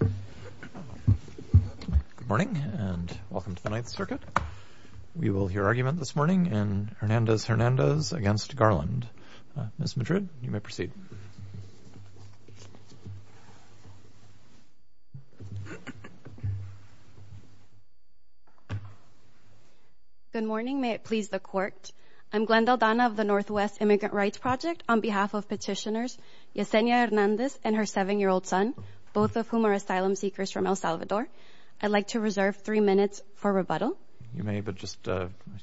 Good morning, and welcome to the Ninth Circuit. We will hear argument this morning in Hernandez-Hernandez v. Garland. Ms. Madrid, you may proceed. Good morning. May it please the Court, I'm Glenda Aldana of the Northwest Immigrant Rights Project on behalf of Petitioners Yesenia Hernandez and her seven-year-old son, both of whom are asylum seekers from El Salvador. I'd like to reserve three minutes for rebuttal. You may, but just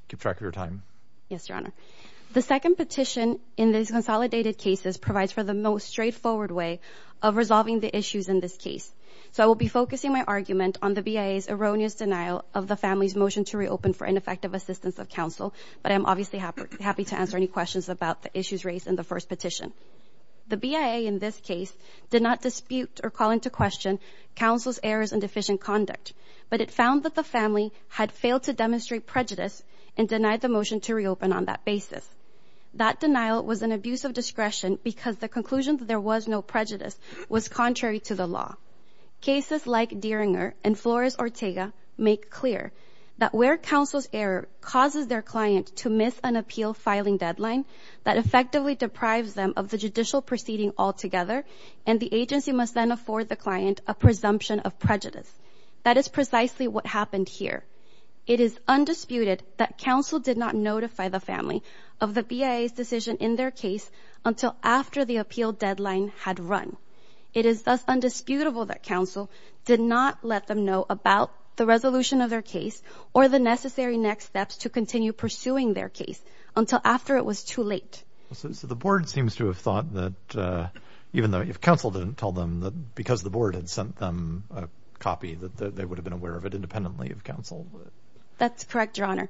keep track of your time. Yes, Your Honor. The second petition in these consolidated cases provides for the most straightforward way of resolving the issues in this case. So I will be focusing my argument on the BIA's erroneous denial of the family's motion to reopen for ineffective assistance of counsel, but I'm obviously happy to answer any questions about the issues raised in the first petition. The BIA in this case did not dispute or call into question counsel's errors and deficient conduct, but it found that the family had failed to demonstrate prejudice and denied the motion to reopen on that basis. That denial was an abuse of discretion because the conclusion that there was no prejudice was contrary to the law. Cases like Dieringer and Flores-Ortega make clear that where counsel's error causes their client to miss an appeal filing deadline that effectively deprives them of the judicial proceeding altogether, and the agency must then afford the client a presumption of prejudice. That is precisely what happened here. It is undisputed that counsel did not notify the family of the BIA's decision in their case until after the appeal deadline had run. It is thus undisputable that counsel did not let them know about the resolution of their case or the necessary next steps to continue pursuing their case until after it was too late. So the board seems to have thought that even though if counsel didn't tell them that because the board had sent them a copy that they would have been aware of it independently of counsel. That's correct, Your Honor.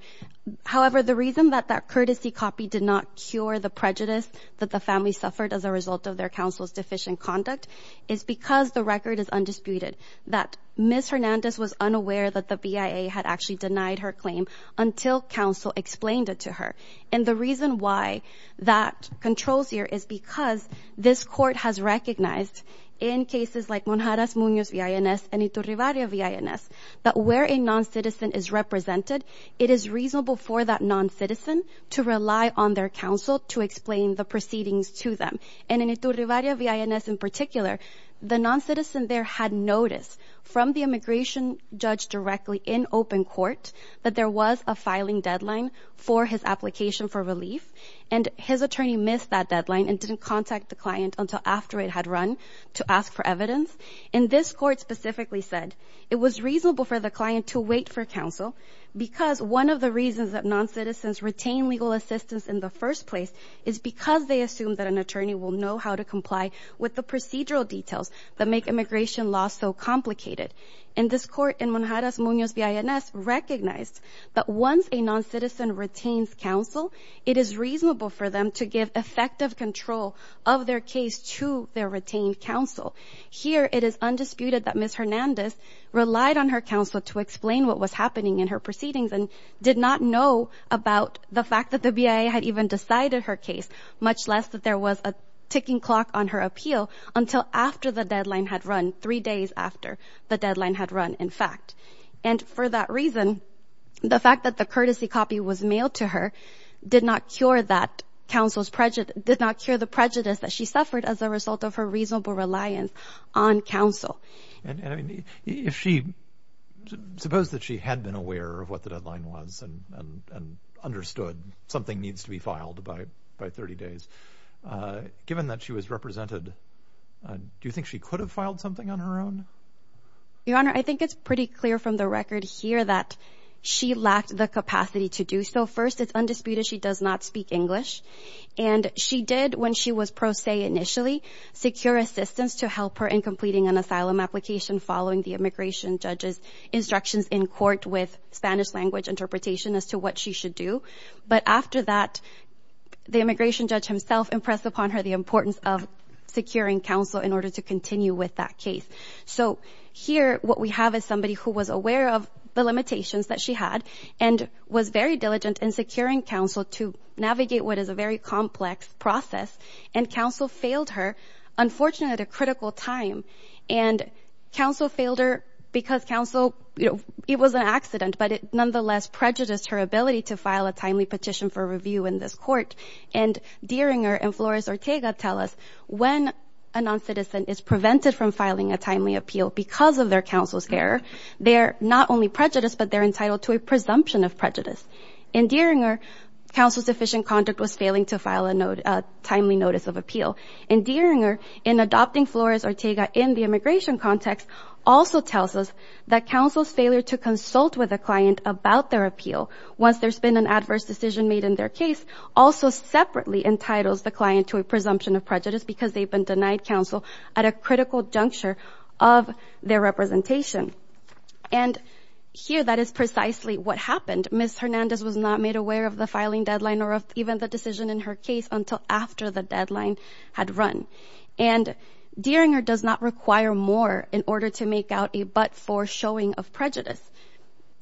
However, the reason that that courtesy copy did not cure the prejudice that the family suffered as a result of their counsel's deficient conduct is because the record is undisputed that Ms. Hernandez was unaware that the BIA had actually denied her claim until counsel explained it to her. And the reason why that controls here is because this court has recognized in cases like Monjarez-Munoz V.I.N.S. and Iturribarria V.I.N.S. that where a non-citizen is represented, it is reasonable for that non-citizen to rely on their counsel to explain the proceedings to them. And in Iturribarria V.I.N.S. in particular, the non-citizen there had notice from the immigration judge directly in open court that there was a filing deadline for his application for relief, and his attorney missed that deadline and didn't contact the client until after it had run to ask for evidence. And this court specifically said it was reasonable for the client to wait for counsel because one of the reasons that non-citizens retain legal assistance in the first place is because they assume that an attorney will know how to comply with the procedural details that make immigration law so complicated. And this court in Monjarez-Munoz V.I.N.S. recognized that once a non-citizen retains counsel, it is reasonable for them to give effective control of their case to their retained counsel. Here, it is undisputed that Ms. Hernandez relied on her counsel to explain what was happening in her proceedings and did not know about the fact that the BIA had even decided her case, much less that there was a ticking clock on her appeal, until after the deadline had run, three days after the deadline had run, in fact. And for that reason, the fact that the courtesy copy was mailed to her did not cure that counsel's prejudice, did not cure the prejudice that she suffered as a result of her reasonable reliance on counsel. And, I mean, if she, suppose that she had been aware of what the deadline was and understood something needs to be filed by 30 days, given that she was represented, do you think she could have filed something on her own? Your Honor, I think it's pretty clear from the record here that she lacked the capacity to do so. First, it's undisputed she does not speak English. And she did, when she was pro se initially, secure assistance to help her in completing an asylum application following the immigration judge's instructions in court with Spanish language interpretation as to what she should do. But after that, the immigration judge himself impressed upon her the importance of securing counsel in order to continue with that case. So here, what we have is somebody who was aware of the limitations that she had and was very diligent in securing counsel to navigate what is a very complex process. And counsel failed her, unfortunately, at a critical time. And counsel failed her because counsel, you petition for review in this court. And Deeringer and Flores-Ortega tell us when a non-citizen is prevented from filing a timely appeal because of their counsel's error, they're not only prejudiced, but they're entitled to a presumption of prejudice. In Deeringer, counsel's efficient conduct was failing to file a timely notice of appeal. In Deeringer, in adopting Flores-Ortega in the immigration context also tells us that counsel's failure to consult with a client about their appeal once there's been an adverse decision made in their case also separately entitles the client to a presumption of prejudice because they've been denied counsel at a critical juncture of their representation. And here, that is precisely what happened. Ms. Hernandez was not made aware of the filing deadline or of even the decision in her case until after the deadline had run. And Deeringer does not require more in order to make out but for showing of prejudice.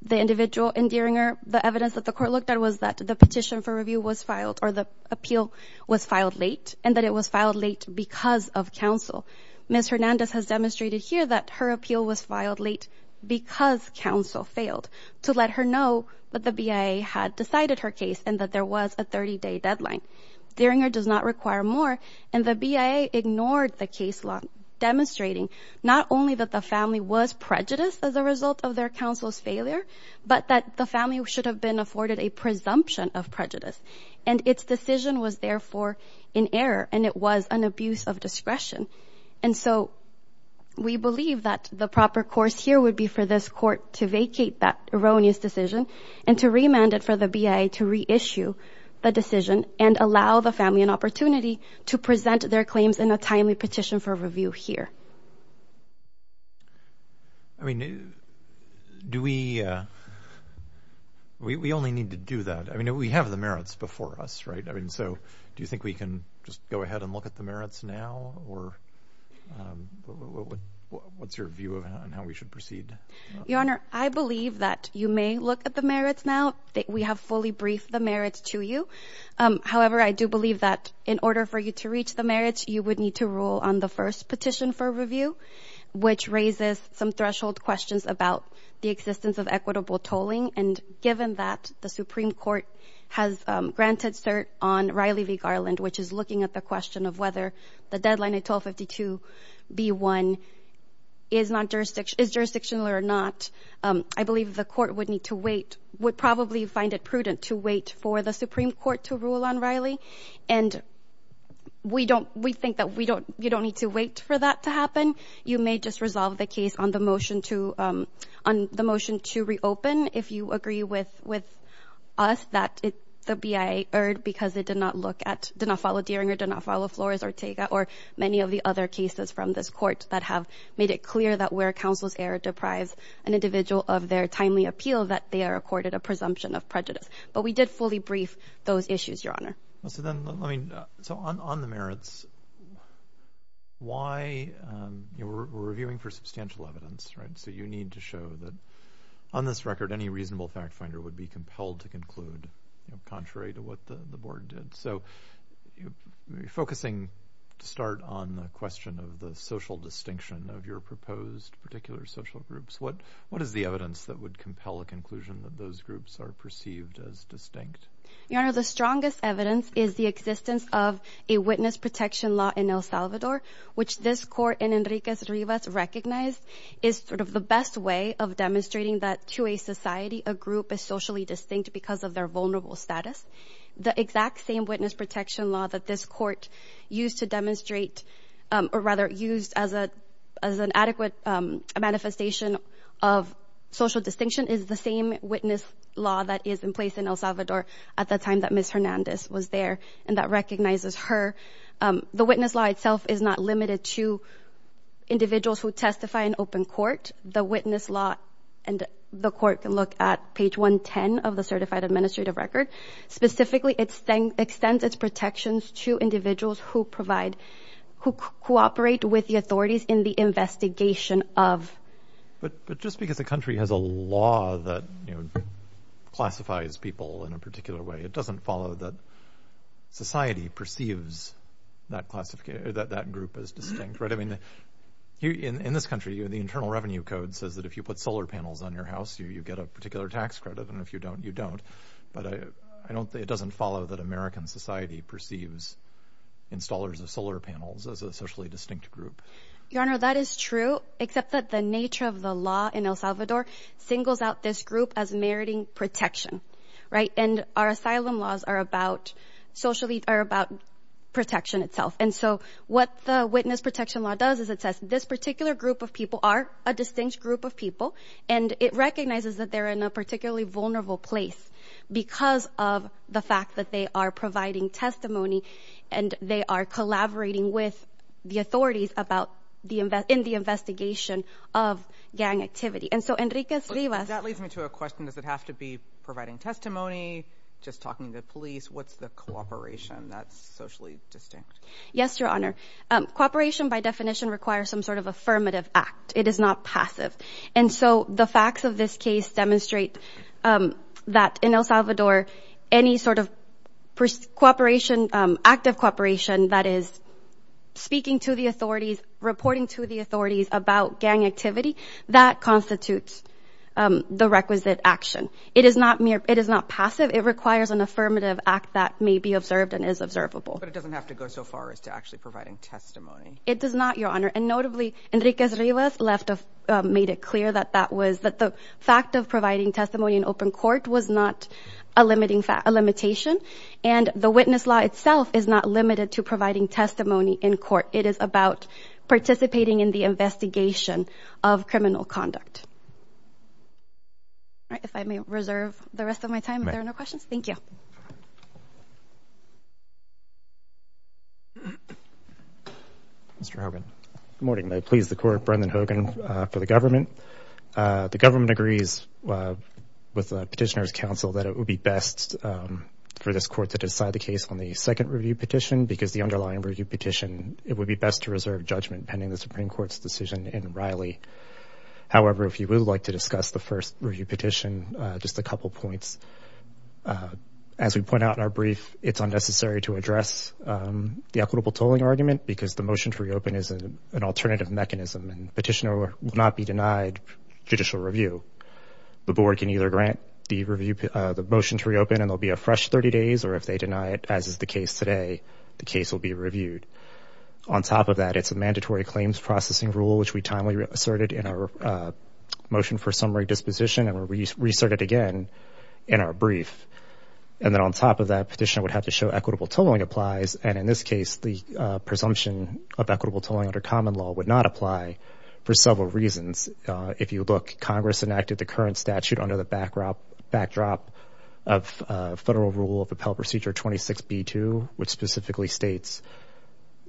The individual in Deeringer, the evidence that the court looked at was that the petition for review was filed or the appeal was filed late and that it was filed late because of counsel. Ms. Hernandez has demonstrated here that her appeal was filed late because counsel failed to let her know that the BIA had decided her case and that there was a 30-day deadline. Deeringer does not require more, and the BIA ignored the case law, demonstrating not only that the family was prejudiced as a result of their counsel's failure but that the family should have been afforded a presumption of prejudice and its decision was therefore in error and it was an abuse of discretion. And so we believe that the proper course here would be for this court to vacate that erroneous decision and to remand it for the BIA to reissue the decision and allow the family an opportunity to present their claims in a timely petition for review here. I mean, do we, we only need to do that. I mean, we have the merits before us, right? I mean, so do you think we can just go ahead and look at the merits now or what's your view of how we should proceed? Your Honor, I believe that you may look at the merits now that we have fully briefed the merits to you. However, I do believe that in order for you to reach the merits, you would need to rule on the first petition for review, which raises some threshold questions about the existence of equitable tolling. And given that the Supreme Court has granted cert on Riley v. Garland, which is looking at the question of whether the deadline at 1252 B1 is jurisdictional or not, I believe the court would need to to wait for the Supreme Court to rule on Riley. And we don't, we think that we don't, you don't need to wait for that to happen. You may just resolve the case on the motion to reopen if you agree with us that the BIA erred because it did not look at, did not follow Deering or did not follow Flores Ortega or many of the other cases from this court that have made it clear that where counsel's error deprives an individual of their timely appeal, that they are accorded a presumption of prejudice. But we did fully brief those issues, Your Honor. So then, I mean, so on the merits, why we're reviewing for substantial evidence, right? So you need to show that on this record, any reasonable fact finder would be compelled to conclude contrary to what the board did. So you're focusing to start on the question of the social distinction of your proposed particular social groups. What, what is the evidence that would compel a conclusion that those groups are perceived as distinct? Your Honor, the strongest evidence is the existence of a witness protection law in El Salvador, which this court and Enrique Rivas recognized is sort of the best way of demonstrating that to a society, a group is socially distinct because of their vulnerable status. The exact same witness protection law that this court used to demonstrate, or rather used as a, as an adequate manifestation of social distinction is the same witness law that is in place in El Salvador at the time that Ms. Hernandez was there and that recognizes her. The witness law itself is not limited to individuals who testify in open court. The witness law and the court can look at page 110 of the certified administrative record. Specifically, it extends its protections to individuals who provide, who cooperate with the authorities in the investigation of. But, but just because the country has a law that classifies people in a particular way, it doesn't follow that society perceives that classification that that group is distinct, right? I mean, in this country, the internal revenue code says that if you put solar panels on your house, you, you get a particular tax credit. And if you don't, you don't. But I, I don't think it doesn't follow that American society perceives installers of solar panels as a socially distinct group. Your Honor, that is true, except that the nature of the law in El Salvador singles out this group as meriting protection, right? And our asylum laws are about socially are about protection itself. And so what the witness protection law does is it says this particular group of people are a distinct group of people. And it recognizes that they're in a particularly vulnerable place because of the fact that they are providing testimony and they are collaborating with the authorities about the invest, in the investigation of gang activity. And so Enrique, that leads me to a question. Does it have to be providing testimony, just talking to the police? What's the cooperation that's socially distinct? Yes, Your Honor. Um, cooperation by definition requires some sort of affirmative act. It is not passive. And so the facts of this case demonstrate, um, that in El Salvador, any sort of cooperation, um, active cooperation that is speaking to the authorities, reporting to the authorities about gang activity that constitutes, um, the requisite action. It is not mere, it is not passive. It requires an affirmative act that may be observed and is observable, but it doesn't have to go so far as to actually providing testimony. It just, um, made it clear that that was, that the fact of providing testimony in open court was not a limiting fact, a limitation. And the witness law itself is not limited to providing testimony in court. It is about participating in the investigation of criminal conduct. All right. If I may reserve the rest of my time, if there are no questions. Thank you. Mr. Harbin. Good morning. May it please the Court. Brendan Hogan, uh, for the government. Uh, the government agrees, uh, with the Petitioner's Council that it would be best, um, for this court to decide the case on the second review petition because the underlying review petition, it would be best to reserve judgment pending the Supreme Court's decision in Riley. However, if you would like to discuss the first review petition, uh, just a couple of points. Uh, as we point out in our brief, it's unnecessary to address, um, the equitable tolling argument because the motion to reopen is an alternative mechanism and petitioner will not be denied judicial review. The board can either grant the review, uh, the motion to reopen and there'll be a fresh 30 days, or if they deny it, as is the case today, the case will be reviewed. On top of that, it's a mandatory claims processing rule, which we timely asserted in our, uh, motion for summary disposition, and we resorted again in our brief. And then on top of that, Petitioner would have to show equitable tolling applies. And in this case, the, uh, presumption of equitable tolling under common law would not apply for several reasons. Uh, if you look, Congress enacted the current statute under the backdrop of, uh, federal rule of appellate procedure 26B2, which specifically states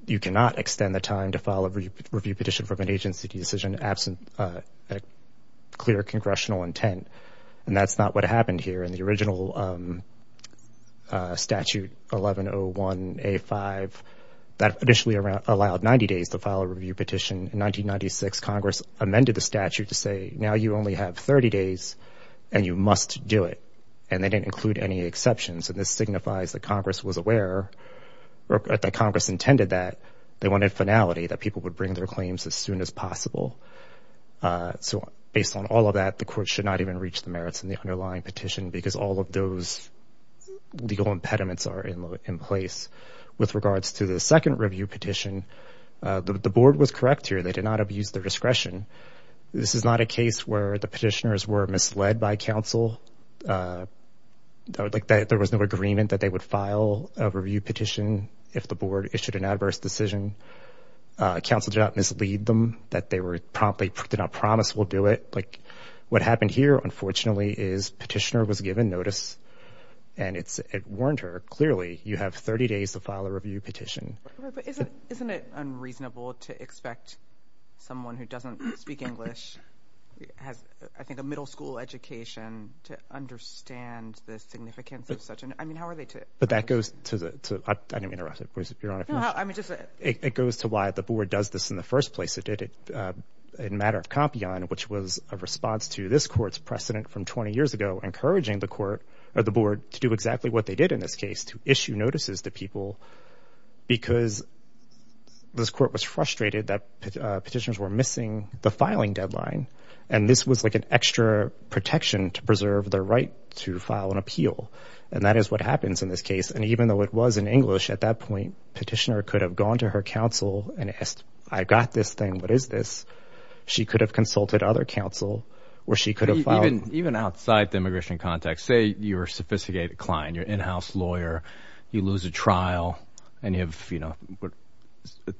you cannot extend the time to file a review petition from an agency decision absent, uh, a clear congressional intent. And that's not what happened here in the original, um, uh, statute 1101A5 that initially allowed 90 days to file a review petition. In 1996, Congress amended the statute to say, now you only have 30 days and you must do it. And they didn't include any exceptions. And this signifies that Congress was aware or that Congress intended that they wanted finality, that people would bring their claims as soon as possible. Uh, so based on all of that, the court should not even reach the merits in the underlying petition because all of those legal impediments are in place. With regards to the second review petition, uh, the, the board was correct here. They did not abuse their discretion. This is not a case where the petitioners were misled by counsel. Uh, I would like that there was no agreement that they would file a review petition if the board issued an adverse decision. Uh, counsel did not mislead them that they were promptly, did not promise we'll do it. Like what happened here, unfortunately, is petitioner was given notice and it's, it warned her clearly you have 30 days to file a review petition. Isn't it unreasonable to expect someone who doesn't speak English has, I think, a middle school education to understand the significance of such an, I mean, how are they to, but that goes to the, to, uh, I didn't mean to rush it. It goes to why the board does this in the first place. It did it, uh, in matter of Compion, which was a response to this court's precedent from 20 years ago, encouraging the court or the board to do exactly what they did in this case to issue notices to people because this court was frustrated that, uh, petitioners were missing the filing deadline. And this was like an extra protection to preserve their right to file an appeal. And that is what happens in this case. And even though it was in English at that point, petitioner could have gone to her counsel and asked, I got this thing. What is this? She could have consulted other counsel where she could have filed. Even outside the immigration context, say your sophisticated client, your in-house lawyer, you lose a trial and you have, you know,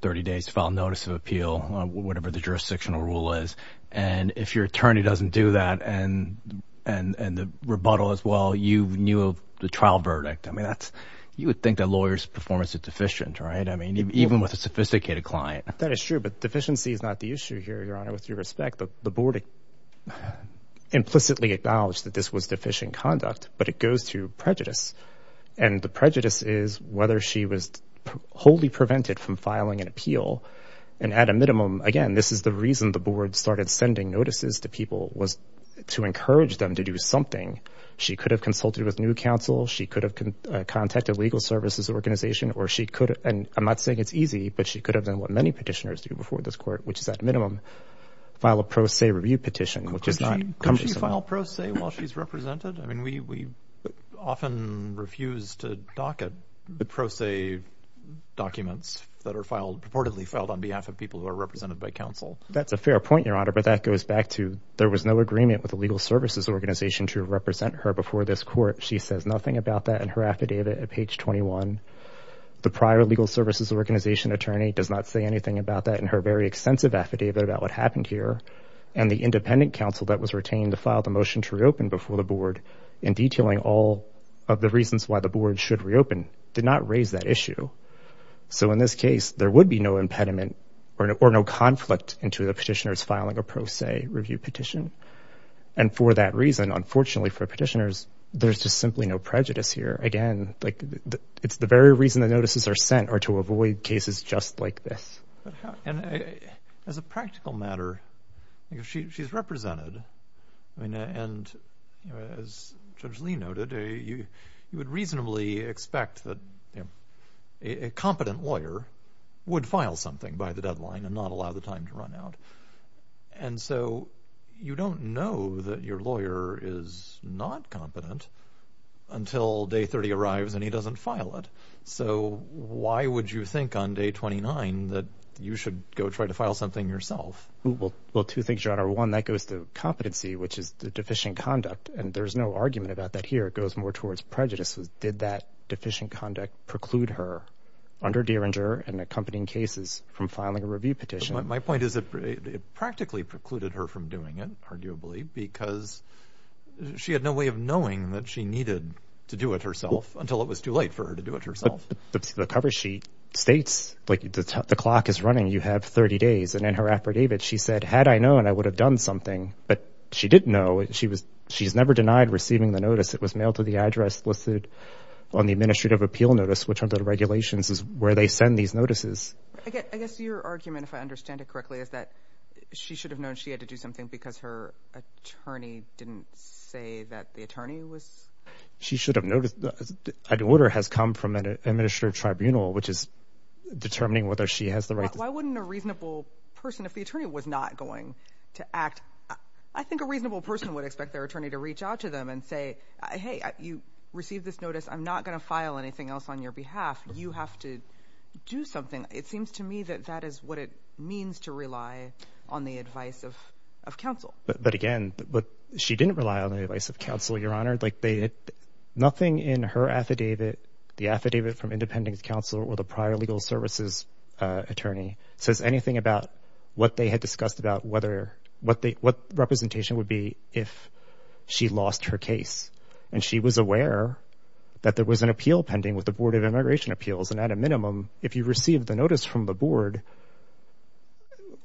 30 days to file notice of appeal, whatever the jurisdictional rule is. And if your attorney doesn't do that and, and, and the rebuttal as well, you knew of the trial verdict. I mean, that's, you would think that lawyers performance is deficient, right? I mean, even with a sophisticated client. That is true, but deficiency is not the issue here. Your honor, with your respect, the board implicitly acknowledged that this was deficient conduct, but it goes to prejudice. And the prejudice is whether she was wholly prevented from filing an appeal. And at a minimum, again, this is the reason the board started sending notices to people was to encourage them to do something. She could have consulted with new counsel. She could have contacted legal services organization, or she could, and I'm not saying it's easy, but she could have done what many petitioners do before this court, which is at minimum file a pro se review petition, which is not. Could she file pro se while she's represented? I mean, we, we filed on behalf of people who are represented by council. That's a fair point, your honor, but that goes back to, there was no agreement with the legal services organization to represent her before this court. She says nothing about that. And her affidavit at page 21, the prior legal services organization attorney does not say anything about that in her very extensive affidavit about what happened here. And the independent council that was retained to file the motion to reopen before the board in detailing all of the reasons why the board should reopen did not raise that issue. So in this case, there would be no impediment or no conflict into the petitioners filing a pro se review petition. And for that reason, unfortunately for petitioners, there's just simply no prejudice here. Again, like it's the very reason the notices are sent are to avoid cases just like this. But how, and as a practical matter, she's represented. I mean, and as Judge Lee noted, you would reasonably expect that a competent lawyer would file something by the deadline and not allow the time to run out. And so you don't know that your lawyer is not competent until day 30 arrives and he doesn't file it. So why would you think on day 29 that you should go try to file something yourself? Well, two things, Your Honor. One, that goes to competency, which is the deficient conduct. And there's no argument about that here. It goes more towards prejudice. Did that deficient conduct preclude her under Diringer and accompanying cases from filing a review petition? My point is it practically precluded her from doing it, arguably, because she had no way of knowing that she needed to do it herself until it was too late for her to do it herself. But the cover sheet states like the clock is running, you have 30 days. And in her affidavit, she said, had I known, I would have done something. But she didn't know. She's never denied receiving the notice. It was mailed to the address listed on the administrative appeal notice, which under the regulations is where they send these notices. I guess your argument, if I understand it correctly, is that she should have known she had to do something because her attorney didn't say that the attorney was... She should have noticed that an order has come from an administrative tribunal, which is determining whether she has the right... Why wouldn't a reasonable person, if the attorney was not going to act, I think a reasonable person would expect their attorney to reach out to them and say, hey, you received this notice, I'm not going to file anything else on your behalf. You have to do something. It seems to me that that is what it means to rely on the advice of counsel. But again, she didn't rely on the advice of counsel, Your Honor. Nothing in her affidavit, the affidavit from independent counsel or the prior legal services attorney says anything about what they had discussed about what representation would be if she lost her case. And she was aware that there was an appeal pending with the Board of Immigration Appeals. And at a minimum, if you received the notice from the board,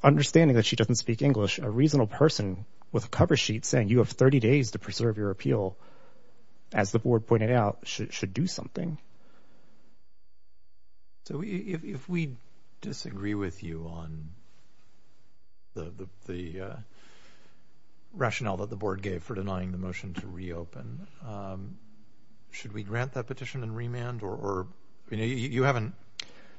understanding that she doesn't speak English, a reasonable person with a cover sheet saying you have 30 days to preserve your appeal, as the board pointed out, should do something. So if we disagree with you on the rationale that the board gave for denying the motion to reopen, should we grant that petition and remand? You haven't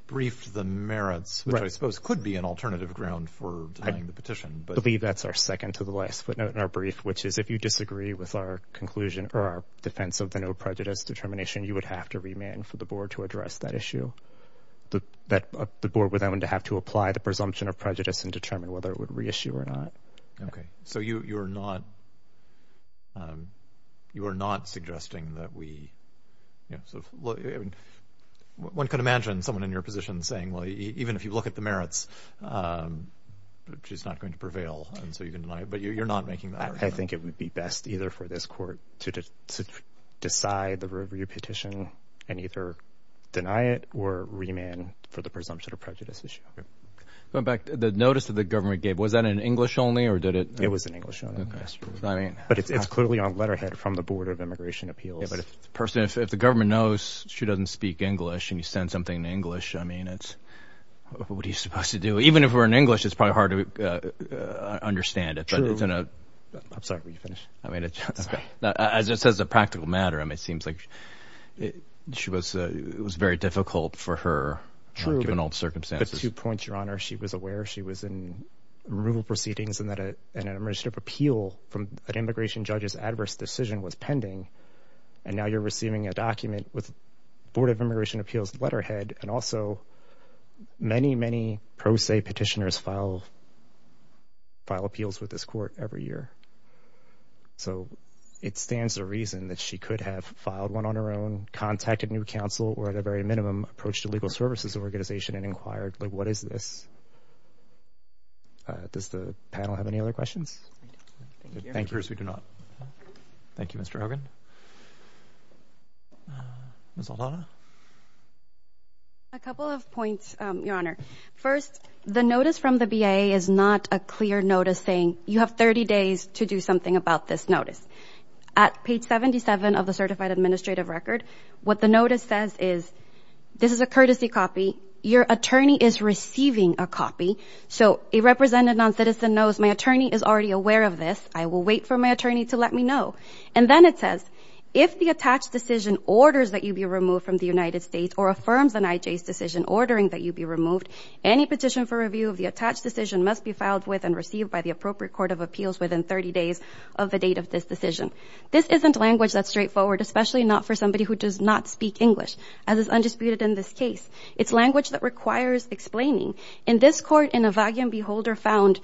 briefed the merits, which I suppose could be an alternative ground for denying the petition. I believe that's our second to the last footnote in our brief, which is if you disagree with our conclusion or our defense of the no prejudice determination, you would have to remand for the board to address that issue. The board would then have to apply the presumption of prejudice and determine whether it would reissue or not. Okay. So you are not suggesting that we... One could imagine someone in your position saying, well, even if you look at the merits, she's not going to prevail. And so you can deny it, you're not making that argument. I think it would be best either for this court to decide the review petition and either deny it or remand for the presumption of prejudice issue. Going back to the notice that the government gave, was that in English only or did it... It was in English only. But it's clearly on letterhead from the board of immigration appeals. If the government knows she doesn't speak English and you send something in English, what are you supposed to do? Even if we're in English, it's probably hard to understand it. True. I'm sorry, will you finish? I mean, as it says the practical matter, I mean, it seems like it was very difficult for her given all the circumstances. The two points, your honor, she was aware she was in removal proceedings and that an emergency appeal from an immigration judge's adverse decision was pending. And now you're receiving a document with board of immigration appeals letterhead and also many, many pro se petitioners file appeals with this court every year. So it stands to reason that she could have filed one on her own, contacted new council, or at a very minimum approach to legal services organization and inquired, like, what is this? Does the panel have any other questions? Thank you, Mr. Hogan. Ms. Aldana? A couple of points, your honor. First, the notice from the BIA is not a clear notice saying you have 30 days to do something about this notice. At page 77 of the certified administrative record, what the notice says is this is a courtesy copy. Your attorney is receiving a copy. So a represented noncitizen knows my attorney is already aware of this. I will wait for my attorney to let me know. And then it says if the attached decision orders that you be removed from the United States or affirms an IJ's decision ordering that you be removed, any petition for review of the attached decision must be filed with and received by the appropriate court of appeals within 30 days of the date of this decision. This isn't language that's straightforward, especially not for somebody who does not speak English, as is undisputed in this case. It's language that requires explaining. In this court, an Evagian Beholder found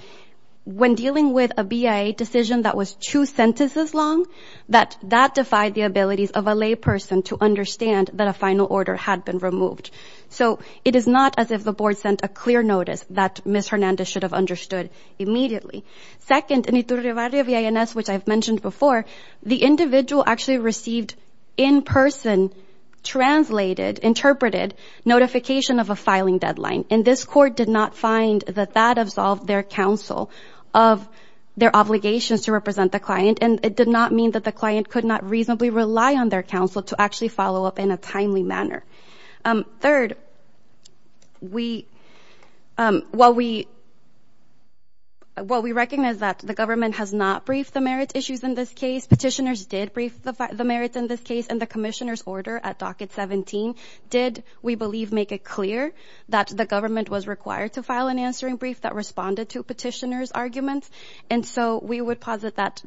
when dealing with a BIA decision that was two sentences long, that that defied the abilities of a layperson to understand that a final order had been removed. So it is not as if the board sent a clear notice that Ms. Hernandez should have understood immediately. Second, in the Iturribária V.I.N.S., which I've mentioned before, the individual actually received in person, translated, interpreted notification of a filing deadline. And this court did not find that that absolved their counsel of their obligations to represent the client. And it did not mean that the client could not reasonably rely on their counsel to actually follow up in a timely manner. Third, while we recognize that the government has not briefed the merits issues in this case, petitioners did brief the merits in this case and the commissioner's order at Docket 17 did, we believe, make it clear that the government was required to file an answering brief that responded to petitioners' arguments. And so we would posit that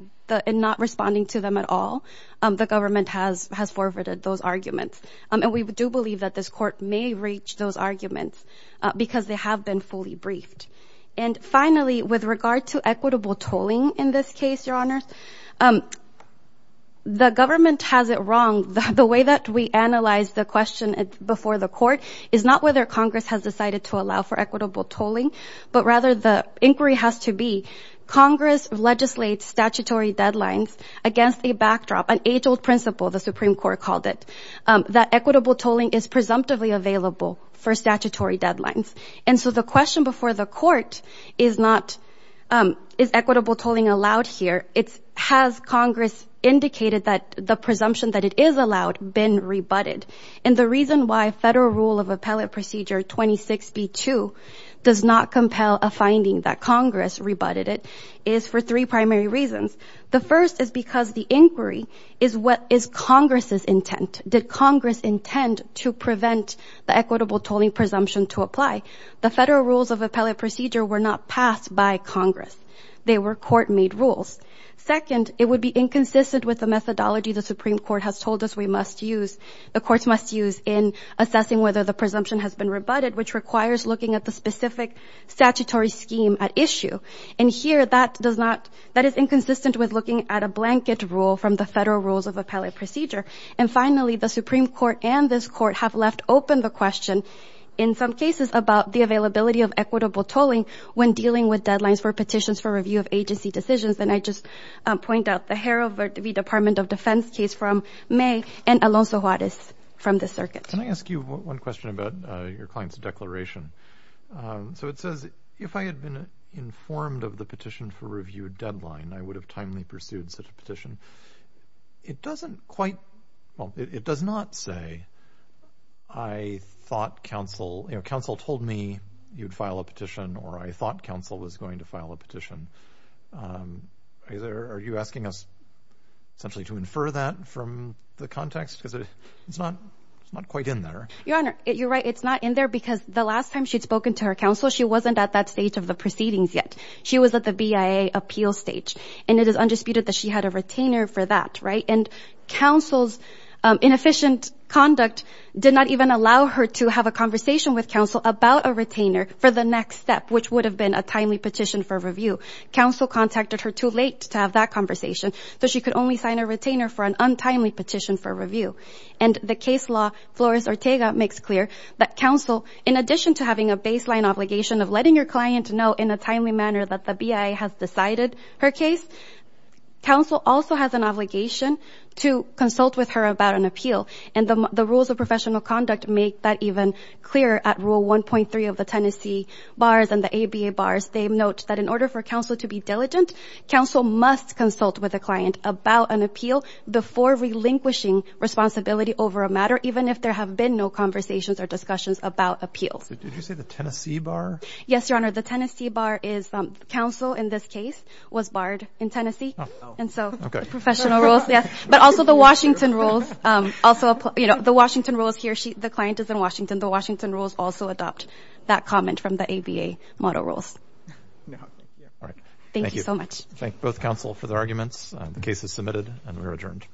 in not responding to them at all, the government has forwarded those arguments. And we do believe that this court may reach those arguments because they have been fully briefed. And finally, with regard to equitable tolling in this case, Your Honors, the government has it wrong. The way that we analyze the question before the court is not whether Congress has decided to allow for equitable tolling, but rather the inquiry has to be Congress legislates statutory deadlines against a backdrop, an age-old principle, the Supreme Court called it, that equitable tolling is presumptively available for statutory deadlines. And so the question before the court is not, is equitable tolling allowed here? It's has Congress indicated that the presumption that it is allowed been rebutted? And the reason why Federal Rule of Appellate Procedure 26B2 does not compel a finding that Congress rebutted it is for three primary reasons. The first is because the inquiry is what is Congress's intent. Did Congress intend to prevent the equitable tolling presumption to apply? The Federal Rules of Appellate Procedure were not passed by Congress. They were court-made rules. Second, it would be inconsistent with the methodology the Supreme Court has told us we must use, the courts must use, in assessing whether the presumption has been rebutted, which requires looking at the specific statutory scheme at issue. And here that does not, that is inconsistent with looking at a blanket rule from the Federal Rules of Appellate Procedure. And finally, the Supreme Court and this court have left open the question, in some cases, about the availability of equitable tolling when dealing with deadlines for petitions for review of agency decisions. And I just point out the Harold V. Department of Defense case from May and Alonzo Juarez from the circuit. Can I ask you one question about your client's declaration? So it says, if I had been informed of the petition for review deadline, I would have timely pursued such a petition. It doesn't quite, well, it does not say, I thought counsel, you know, counsel told me you'd file a petition, or I thought counsel was going to file a petition. Um, are you asking us essentially to infer that from the context? Because it's not, it's not quite in there. Your Honor, you're right. It's not in there because the last time she'd spoken to her counsel, she wasn't at that stage of the proceedings yet. She was at the BIA appeal stage and it is undisputed that she had a retainer for that, right? And counsel's inefficient conduct did not even allow her to have a conversation with counsel about a retainer for the next step, which would have been a timely petition for review. Counsel contacted her too late to have that conversation. So she could only sign a retainer for an untimely petition for review. And the case law Flores Ortega makes clear that counsel, in addition to having a baseline obligation of letting your client know in a timely manner that the BIA has decided her case, counsel also has an obligation to consult with her about an appeal. And the rules of the ABA bars, they note that in order for counsel to be diligent, counsel must consult with a client about an appeal before relinquishing responsibility over a matter, even if there have been no conversations or discussions about appeals. Did you say the Tennessee bar? Yes, Your Honor. The Tennessee bar is, um, counsel in this case was barred in Tennessee. And so professional rules, yes, but also the Washington rules, um, also, you know, the Washington rules, he or she, the client is in Washington. The Washington rules also adopt that comment from the ABA model rules. Thank you so much. Thank both counsel for the arguments. The case is submitted and we're adjourned.